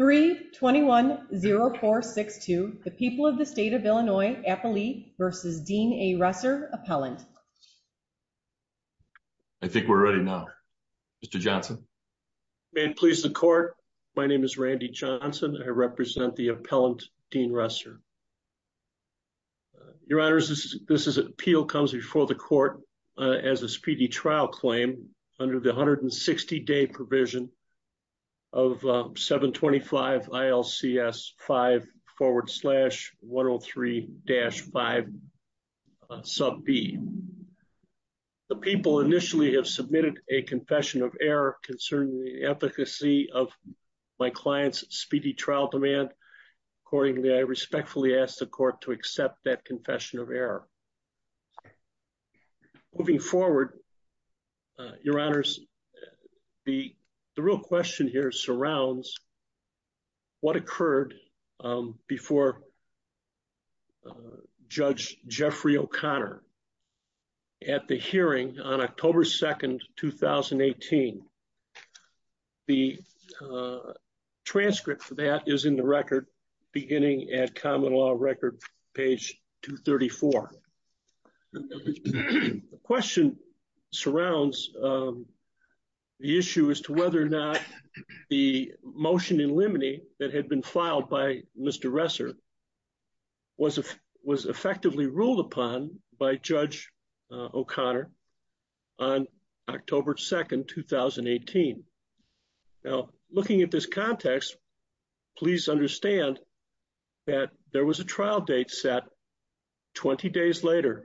3-21-0462, the people of the state of Illinois, Appalee v. Dean A. Resser, Appellant. I think we're ready now. Mr. Johnson? May it please the Court, my name is Randy Johnson. I represent the Appellant, Dean Resser. Your Honors, this appeal comes before the Court as a speedy trial claim under the 160-day provision of 725 ILCS 5 forward slash 103-5 sub B. The people initially have submitted a confession of error concerning the efficacy of my client's speedy trial demand. Accordingly, I respectfully ask the Court to accept that confession of error. Moving forward, Your Honors, the real question here surrounds what occurred before Judge Jeffrey O'Connor at the hearing on October 2nd, 2018. The transcript for that is in the record beginning at Common Law record page 234. The question surrounds the issue as to whether or not the motion in limine that had been filed by Mr. Resser was effectively ruled upon by Judge O'Connor on October 2nd, 2018. Now, looking at this context, please understand that there was a trial date set 20 days later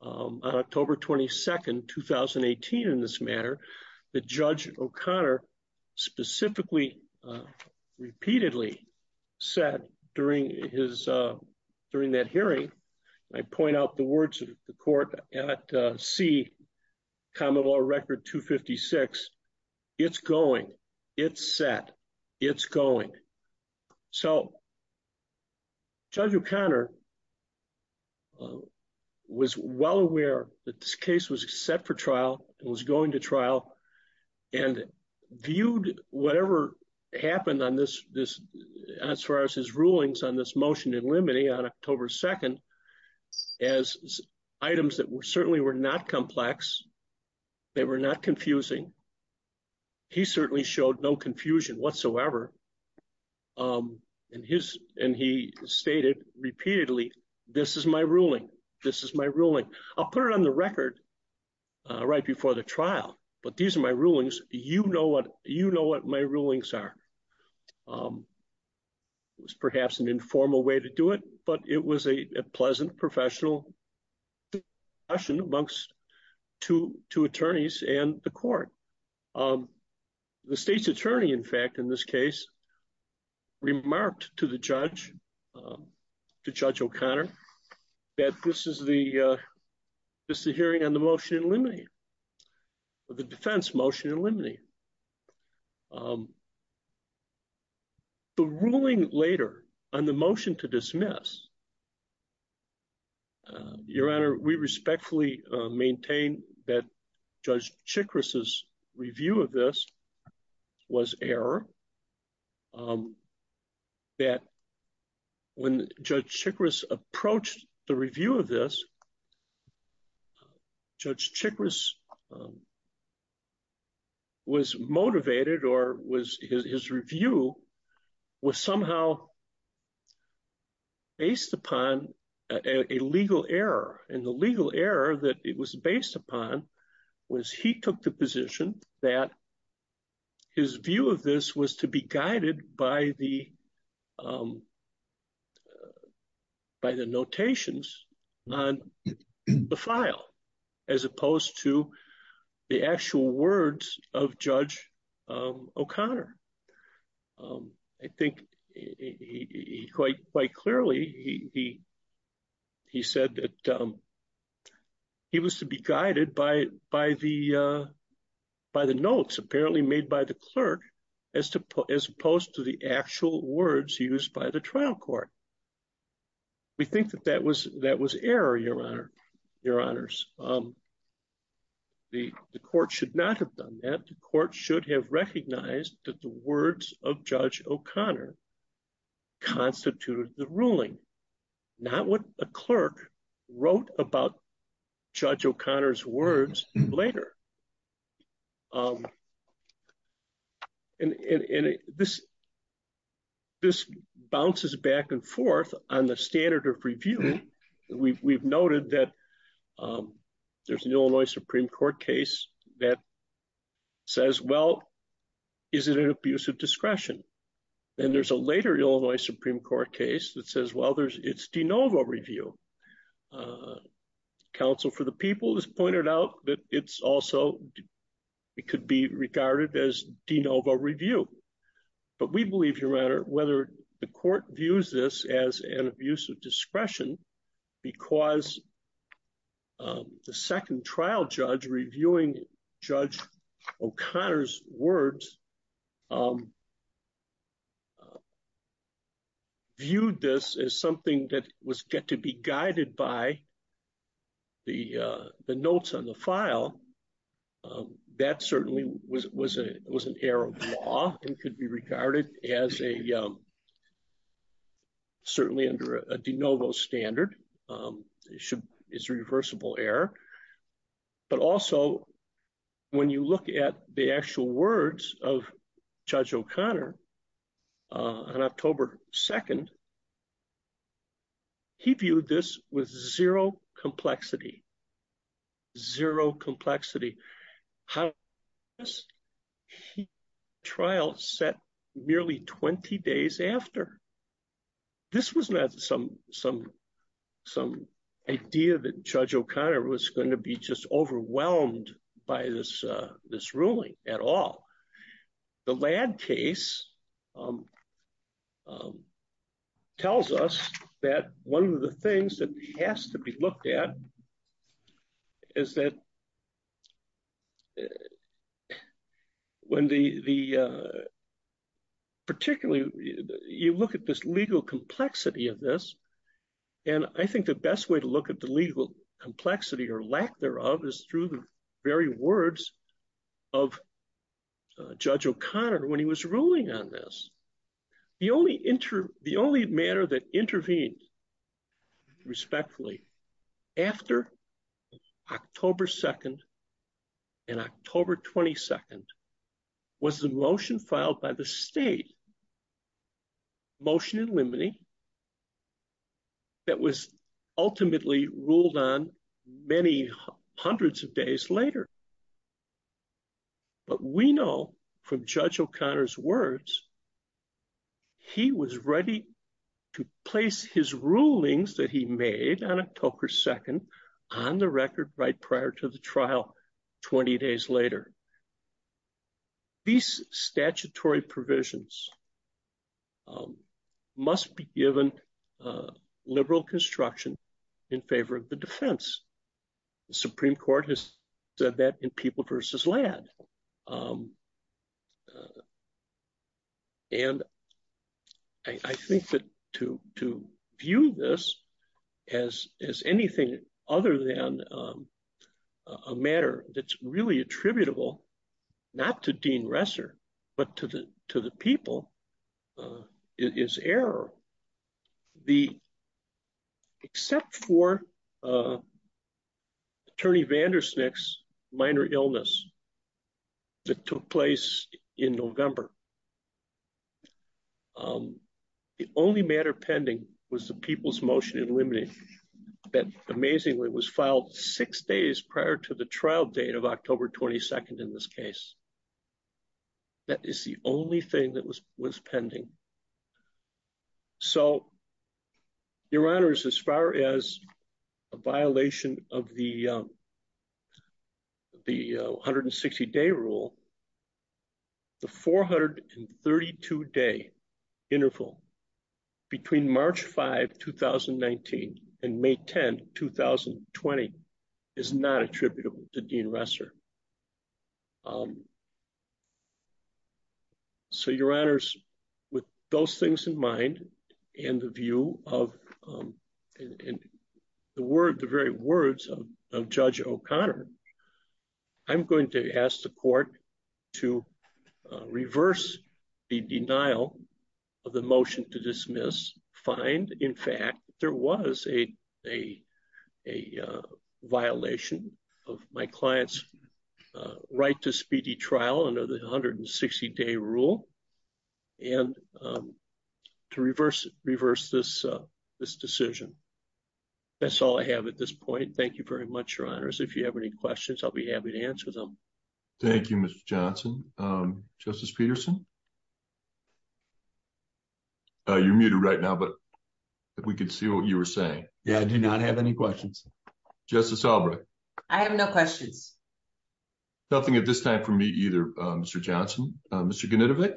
on October 22nd, 2018 in this matter that Judge O'Connor specifically repeatedly set during that hearing. I point out the words of the Court at C, Common Law record 256, it's going, it's set, it's going. So, Judge O'Connor was well aware that this case was set for trial, it was going to trial, and viewed whatever happened on this, as far as his rulings on this motion in limine on October 2nd as items that certainly were not complex, they were not confusing. He certainly showed no confusion whatsoever, and he stated repeatedly, this is my ruling, this is my ruling. I'll put it on the record right before the trial, but these are my rulings, you know what my rulings are. It was perhaps an informal way to do it, but it was a pleasant professional discussion amongst two attorneys and the court. The state's attorney, in fact, in this case, remarked to the judge, to Judge O'Connor, that this is the hearing on the motion in limine, the defense motion in limine. The ruling later on the motion to dismiss, Your Honor, we respectfully maintain that Judge Chikris's review of this was error. And the legal error that it was based upon, was he took the position that his view of this was error, and that's what Judge O'Connor did. He was to be guided by the notations on the file, as opposed to the actual words of Judge O'Connor. I think he quite clearly, he said that he was to be guided by the notes apparently made by the clerk, as opposed to the actual words used by the trial court. We think that that was error, Your Honor, Your Honors. The court should not have done that. The court should have recognized that the words of Judge O'Connor constituted the ruling, not what a clerk wrote about Judge O'Connor's words later. And this bounces back and forth on the standard of review. We've noted that there's an Illinois Supreme Court case that says, well, is it an abuse of discretion? And there's a later Illinois Supreme Court case that says, well, it's de novo review. Counsel for the people has pointed out that it's also, it could be regarded as de novo review. But we believe, Your Honor, whether the court views this as an abuse of discretion because the second trial judge reviewing Judge O'Connor's words viewed this as something that was to be guided by the notes on the file. That certainly was an error of law and could be regarded as a, certainly under a de novo standard. It's a reversible error. But also, when you look at the actual words of Judge O'Connor on October 2nd, he viewed this with zero complexity. Zero complexity. How is this trial set merely 20 days after? This was not some idea that Judge O'Connor was going to be just overwhelmed by this ruling at all. The Ladd case tells us that one of the things that has to be looked at is that when the, particularly, you look at this legal complexity of this. And I think the best way to look at the legal complexity or lack thereof is through the very words of Judge O'Connor when he was ruling on this. The only matter that intervened respectfully after October 2nd and October 22nd was the motion filed by the state, motion in limine, that was ultimately ruled on many hundreds of days later. But we know from Judge O'Connor's words, he was ready to place his rulings that he made on October 2nd on the record right prior to the trial 20 days later. These statutory provisions must be given liberal construction in favor of the defense. The Supreme Court has said that in people versus Ladd. And I think that to view this as anything other than a matter that's really attributable, not to Dean Resser, but to the people, is error. Except for Attorney Vandersnick's minor illness that took place in November, the only matter pending was the people's motion in limine that amazingly was filed six days prior to the trial date of October 22nd in this case. That is the only thing that was was pending. So, Your Honors, as far as a violation of the 160 day rule, the 432 day interval between March 5, 2019 and May 10, 2020 is not attributable to Dean Resser. So, Your Honors, with those things in mind, and the view of the word, the very words of Judge O'Connor, I'm going to ask the court to reverse the denial of the motion to dismiss. In fact, there was a violation of my client's right to speedy trial under the 160 day rule. And to reverse this decision, that's all I have at this point. Thank you very much, Your Honors. If you have any questions, I'll be happy to answer them. Thank you, Mr. Johnson. Justice Peterson. You're muted right now, but we can see what you were saying. Yeah, I do not have any questions. Justice Albrecht. I have no questions. Nothing at this time for me either, Mr. Johnson. Mr. Gunitevic.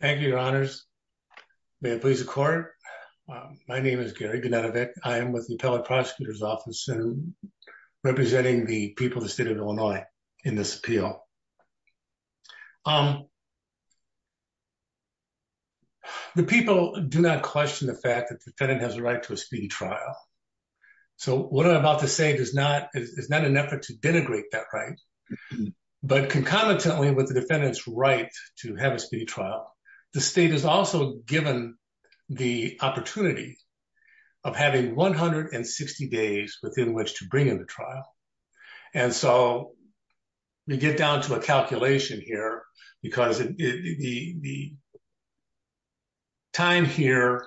Thank you, Your Honors. May it please the court. My name is Gary Gunitevic. I am with the Appellate Prosecutor's Office representing the people of the state of Illinois in this appeal. The people do not question the fact that the defendant has a right to a speedy trial. So what I'm about to say is not an effort to denigrate that right. But concomitantly with the defendant's right to have a speedy trial, the state is also given the opportunity of having 160 days within which to bring in the trial. And so we get down to a calculation here because the time here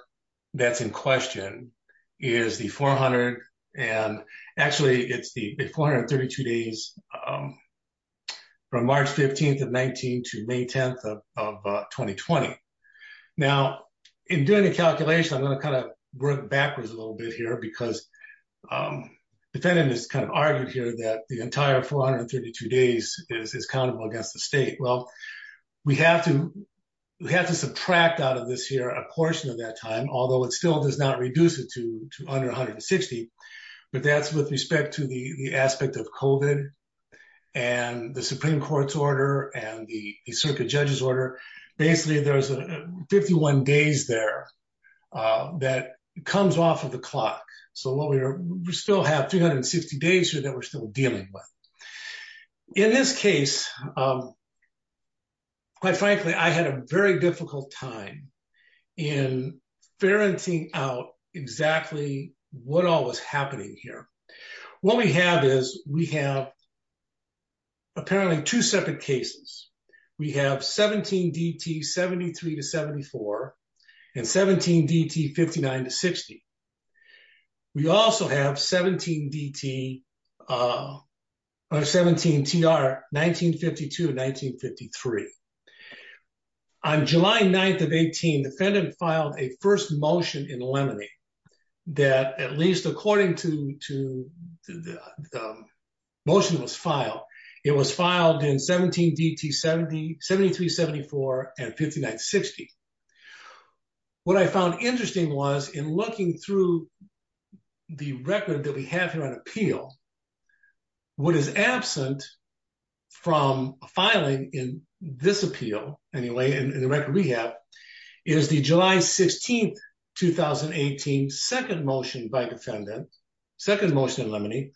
that's in question is the 400 and actually it's the 432 days from March 15th of 19 to May 10th of 2020. Now, in doing the calculation, I'm going to kind of work backwards a little bit here because the defendant has kind of argued here that the entire 432 days is countable against the state. Well, we have to subtract out of this here a portion of that time, although it still does not reduce it to under 160, but that's with respect to the aspect of COVID and the Supreme Court's order and the circuit judge's order. Basically, there's 51 days there that comes off of the clock. So we still have 360 days here that we're still dealing with. In this case, quite frankly, I had a very difficult time in ferencing out exactly what all was happening here. What we have is we have apparently two separate cases. We have 17 DT 73 to 74 and 17 DT 59 to 60. We also have 17 DT or 17 TR 1952 and 1953. On July 9th of 18, defendant filed a first motion in limine that at least according to the motion that was filed, it was filed in 17 DT 73 74 and 59 60. What I found interesting was in looking through the record that we have here on appeal, what is absent from filing in this appeal anyway, and the record we have is the July 16th, 2018 second motion by defendant, second motion in limine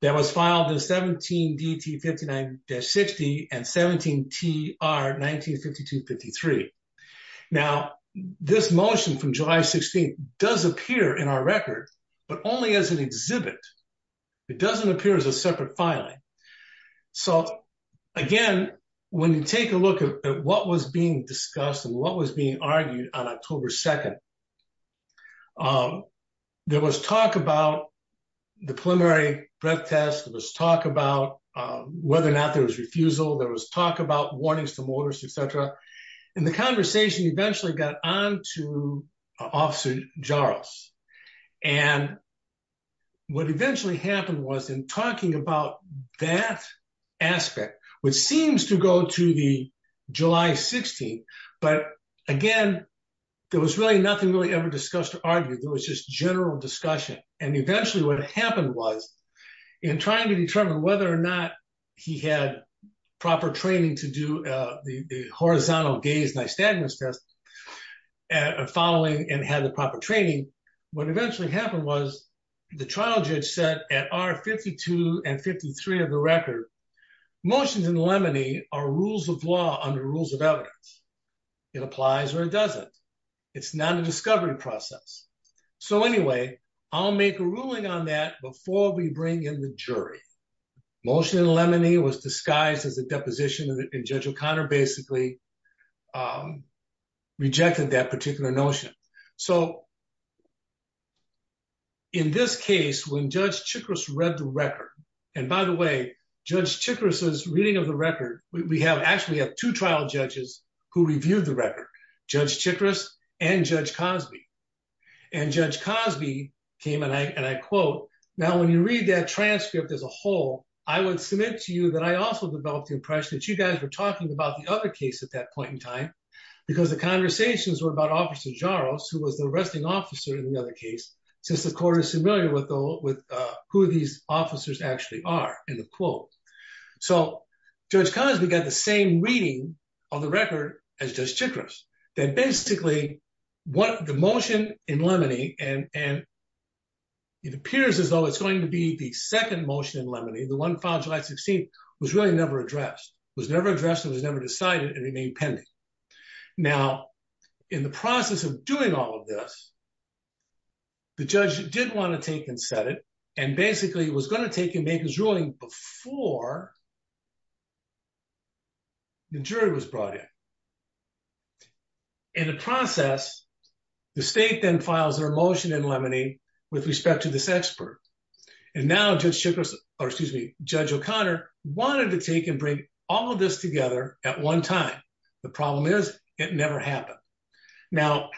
that was filed in 17 DT 59 60 and 17 TR 1952 53. Now, this motion from July 16th does appear in our record, but only as an exhibit. It doesn't appear as a separate filing. So, again, when you take a look at what was being discussed and what was being argued on October 2nd, there was talk about the preliminary breath test. There was talk about whether or not there was refusal. There was talk about warnings to motorists, et cetera. And the conversation eventually got on to Officer Jarosz. And what eventually happened was in talking about that aspect, which seems to go to the July 16th, but again, there was really nothing really ever discussed or argued. There was just general discussion. And eventually what happened was in trying to determine whether or not he had proper training to do the horizontal gaze nystagmus test following and had the proper training. What eventually happened was the trial judge said at R 52 and 53 of the record, motions in limine are rules of law under rules of evidence. It applies or it doesn't. It's not a discovery process. So, anyway, I'll make a ruling on that before we bring in the jury. Motion in limine was disguised as a deposition and Judge O'Connor basically rejected that particular notion. So, in this case, when Judge Chikris read the record, and by the way, Judge Chikris' reading of the record, we have actually have two trial judges who reviewed the record, Judge Chikris and Judge Cosby. And Judge Cosby came and I quote, now when you read that transcript as a whole, I would submit to you that I also developed the impression that you guys were talking about the other case at that point in time. Because the conversations were about Officer Jarosz, who was the arresting officer in the other case, since the court is familiar with who these officers actually are in the quote. So, Judge Cosby got the same reading on the record as Judge Chikris. Then basically, the motion in limine, and it appears as though it's going to be the second motion in limine, the one filed July 16th, was really never addressed, was never addressed and was never decided and remained pending. Now, in the process of doing all of this, the judge did want to take and set it, and basically was going to take and make his ruling before the jury was brought in. In the process, the state then files their motion in limine with respect to this expert. And now Judge Chikris, or excuse me, Judge O'Connor wanted to take and bring all of this together at one time. The problem is, it never happened. Now,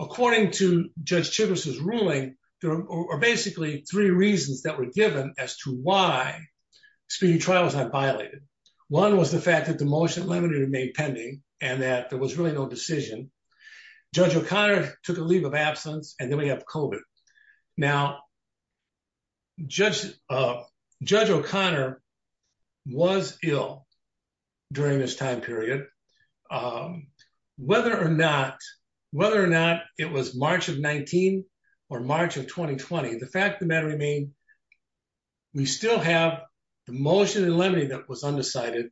according to Judge Chikris' ruling, there are basically three reasons that were given as to why speeding trial was not violated. One was the fact that the motion in limine remained pending and that there was really no decision. Judge O'Connor took a leave of absence, and then we have COVID. Now, Judge O'Connor was ill during this time period. Whether or not it was March of 19 or March of 2020, the fact of the matter remained, we still have the motion in limine that was undecided.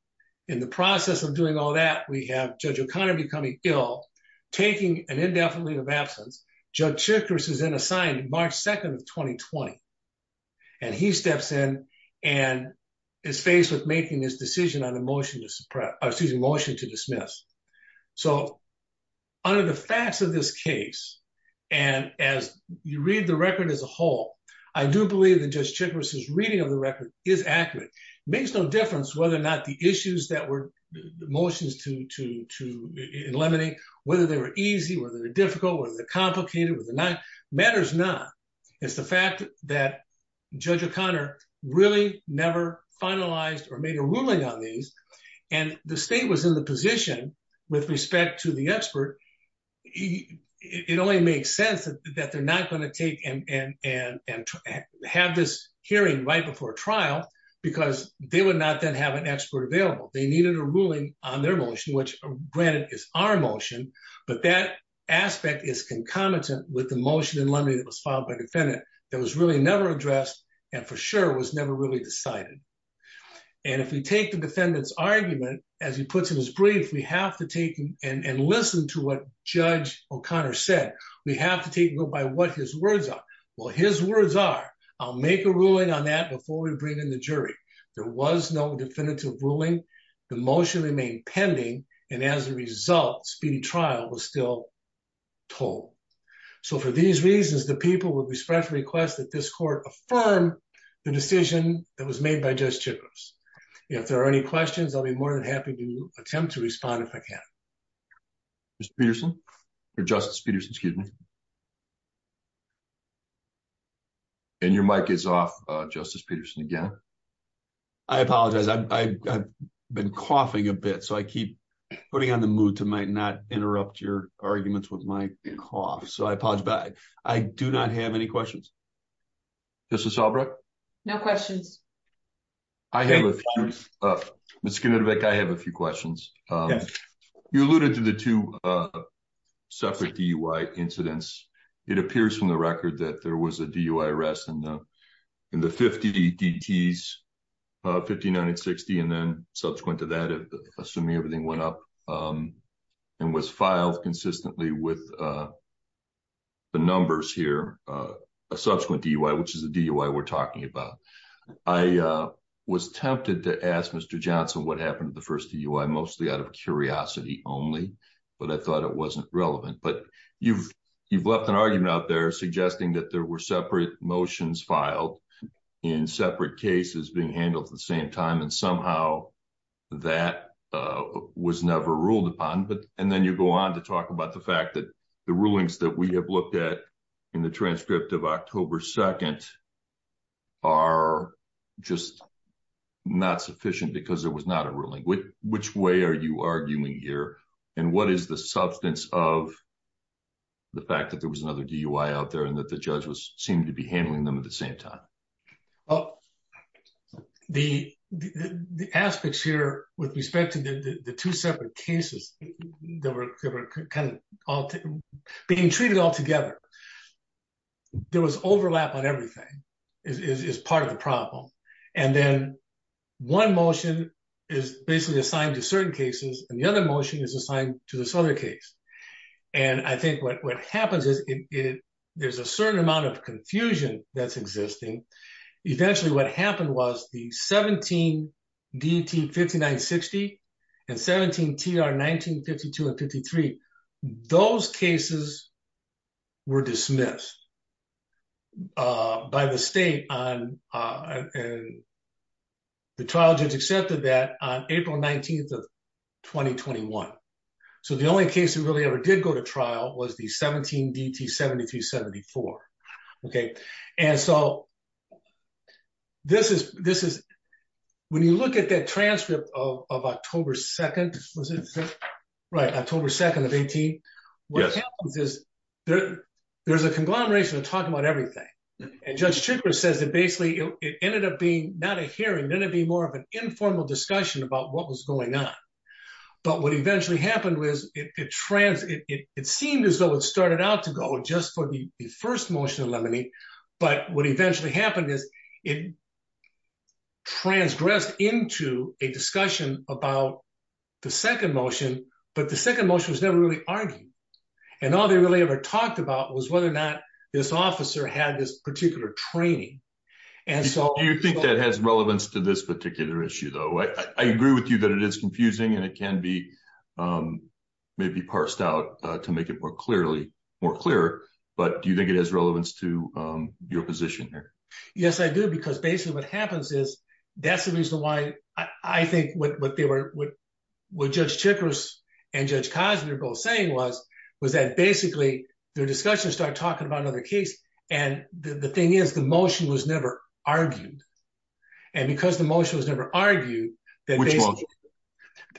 In the process of doing all that, we have Judge O'Connor becoming ill, taking an indefinite leave of absence. Judge Chikris is then assigned March 2nd of 2020, and he steps in and is faced with making his decision on a motion to dismiss. So, under the facts of this case, and as you read the record as a whole, I do believe that Judge Chikris' reading of the record is accurate. It makes no difference whether or not the issues that were motions to eliminate, whether they were easy, whether they were difficult, whether they were complicated, whether they were not, it matters not. It's the fact that Judge O'Connor really never finalized or made a ruling on these, and the state was in the position, with respect to the expert, it only makes sense that they're not going to take and have this hearing right before trial because they would not then have an expert available. They needed a ruling on their motion, which granted is our motion, but that aspect is concomitant with the motion in limine that was filed by the defendant that was really never addressed and for sure was never really decided. And if we take the defendant's argument, as he puts in his brief, we have to take and listen to what Judge O'Connor said. We have to take note by what his words are. Well, his words are, I'll make a ruling on that before we bring in the jury. There was no definitive ruling. The motion remained pending, and as a result, speedy trial was still told. So for these reasons, the people would respectfully request that this court affirm the decision that was made by Judge Chikos. If there are any questions, I'll be more than happy to attempt to respond if I can. Justice Peterson, excuse me. And your mic is off, Justice Peterson, again. I apologize. I've been coughing a bit, so I keep putting on the mood to not interrupt your arguments with my cough, so I apologize. I do not have any questions. Justice Albrecht? No questions. I have a few. Ms. Skinner-Devick, I have a few questions. You alluded to the two separate DUI incidents. It appears from the record that there was a DUI arrest in the 50 DTs, 59 and 60, and then subsequent to that, assuming everything went up, and was filed consistently with the numbers here, a subsequent DUI, which is the DUI we're talking about. I was tempted to ask Mr. Johnson what happened to the first DUI, mostly out of curiosity only, but I thought it wasn't relevant. But you've left an argument out there suggesting that there were separate motions filed in separate cases being handled at the same time, and somehow that was never ruled upon. And then you go on to talk about the fact that the rulings that we have looked at in the transcript of October 2nd are just not sufficient because there was not a ruling. Which way are you arguing here, and what is the substance of the fact that there was another DUI out there and that the judge seemed to be handling them at the same time? The aspects here with respect to the two separate cases that were kind of being treated all together, there was overlap on everything, is part of the problem. And then one motion is basically assigned to certain cases, and the other motion is assigned to this other case. And I think what happens is there's a certain amount of confusion that's existing. Eventually what happened was the 17 DET 5960 and 17 TR 1952 and 53, those cases were dismissed by the state, and the trial judge accepted that on April 19th of 2021. So the only case that really ever did go to trial was the 17 DET 7374. And so when you look at that transcript of October 2nd of 18, what happens is there's a conglomeration of talking about everything. And Judge Tricker says that basically it ended up being not a hearing, it ended up being more of an informal discussion about what was going on. But what eventually happened was it seemed as though it started out to go just for the first motion of limine, but what eventually happened is it transgressed into a discussion about the second motion, but the second motion was never really argued. And all they really ever talked about was whether or not this officer had this particular training. Do you think that has relevance to this particular issue, though? I agree with you that it is confusing and it can be maybe parsed out to make it more clear, but do you think it has relevance to your position here? Yes, I do, because basically what happens is that's the reason why I think what Judge Tricker and Judge Cosby were both saying was that basically their discussion started talking about another case. And the thing is, the motion was never argued. And because the motion was never argued,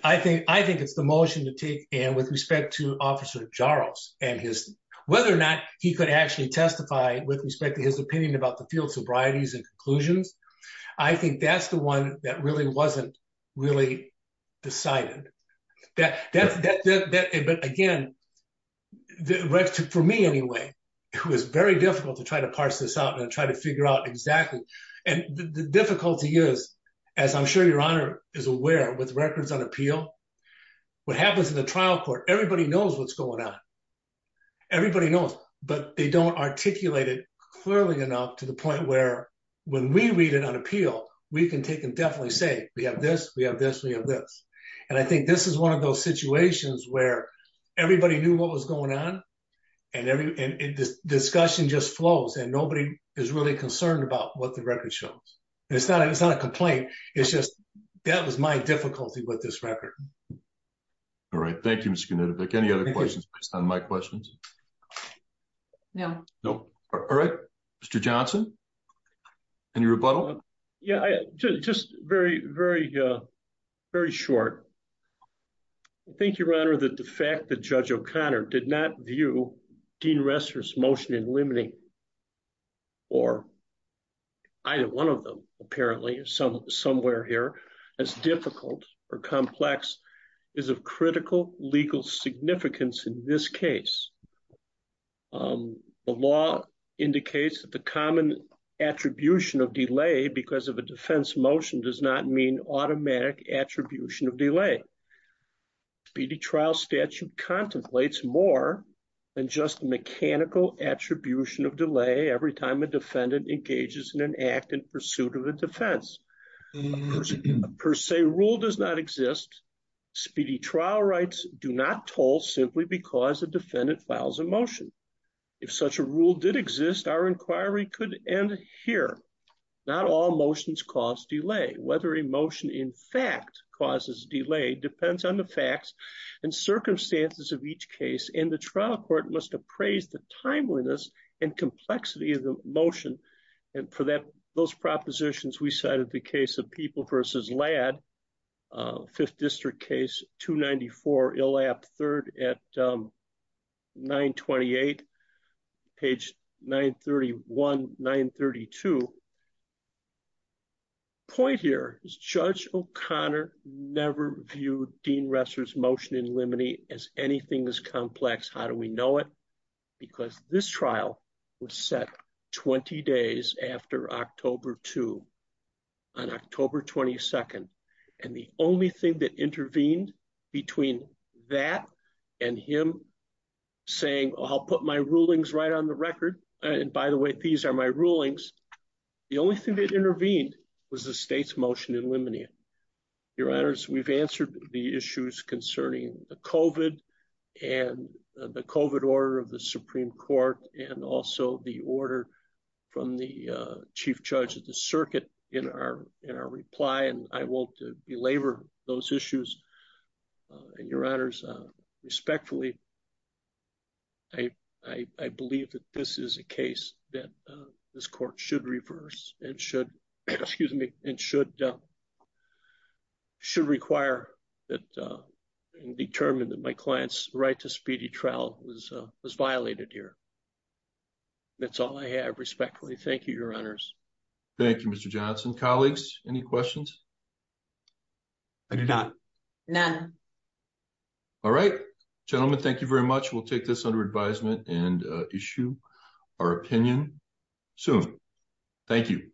I think it's the motion to take. And with respect to Officer Jarosz and whether or not he could actually testify with respect to his opinion about the field sobrieties and conclusions, I think that's the one that really wasn't really decided. But again, for me anyway, it was very difficult to try to parse this out and try to figure out exactly. And the difficulty is, as I'm sure Your Honor is aware, with records on appeal, what happens in the trial court, everybody knows what's going on. Everybody knows, but they don't articulate it clearly enough to the point where when we read it on appeal, we can take and definitely say, we have this, we have this, we have this. And I think this is one of those situations where everybody knew what was going on and discussion just flows and nobody is really concerned about what the record shows. It's not a complaint. It's just that was my difficulty with this record. All right. Thank you, Mr. Knudovic. Any other questions based on my questions? No. All right. Mr. Johnson, any rebuttal? Yeah, just very, very, very short. I think, Your Honor, that the fact that Judge O'Connor did not view Dean Resser's motion in limiting or either one of them, apparently, somewhere here, as difficult or complex is of critical legal significance in this case. The law indicates that the common attribution of delay because of a defense motion does not mean automatic attribution of delay. Speedy trial statute contemplates more than just mechanical attribution of delay every time a defendant engages in an act in pursuit of a defense. A per se rule does not exist. Speedy trial rights do not toll simply because a defendant files a motion. If such a rule did exist, our inquiry could end here. Not all motions cause delay. Whether a motion, in fact, causes delay depends on the facts and circumstances of each case, and the trial court must appraise the timeliness and complexity of the motion. And for those propositions, we cited the case of People v. Ladd, 5th District Case 294, Illap III at 928, page 931, 932. The point here is Judge O'Connor never viewed Dean Resser's motion in limiting as anything as complex. How do we know it? Because this trial was set 20 days after October 2, on October 22, and the only thing that intervened between that and him saying, I'll put my rulings right on the record. And by the way, these are my rulings. The only thing that intervened was the state's motion in limiting it. Your Honors, we've answered the issues concerning the COVID and the COVID order of the Supreme Court and also the order from the Chief Judge of the Circuit in our reply, and I won't belabor those issues. And Your Honors, respectfully, I believe that this is a case that this court should reverse and should require and determine that my client's right to speedy trial was violated here. That's all I have, respectfully. Thank you, Your Honors. Thank you, Mr. Johnson. Colleagues, any questions? I do not. None. All right. Gentlemen, thank you very much. We'll take this under advisement and issue our opinion soon. Thank you.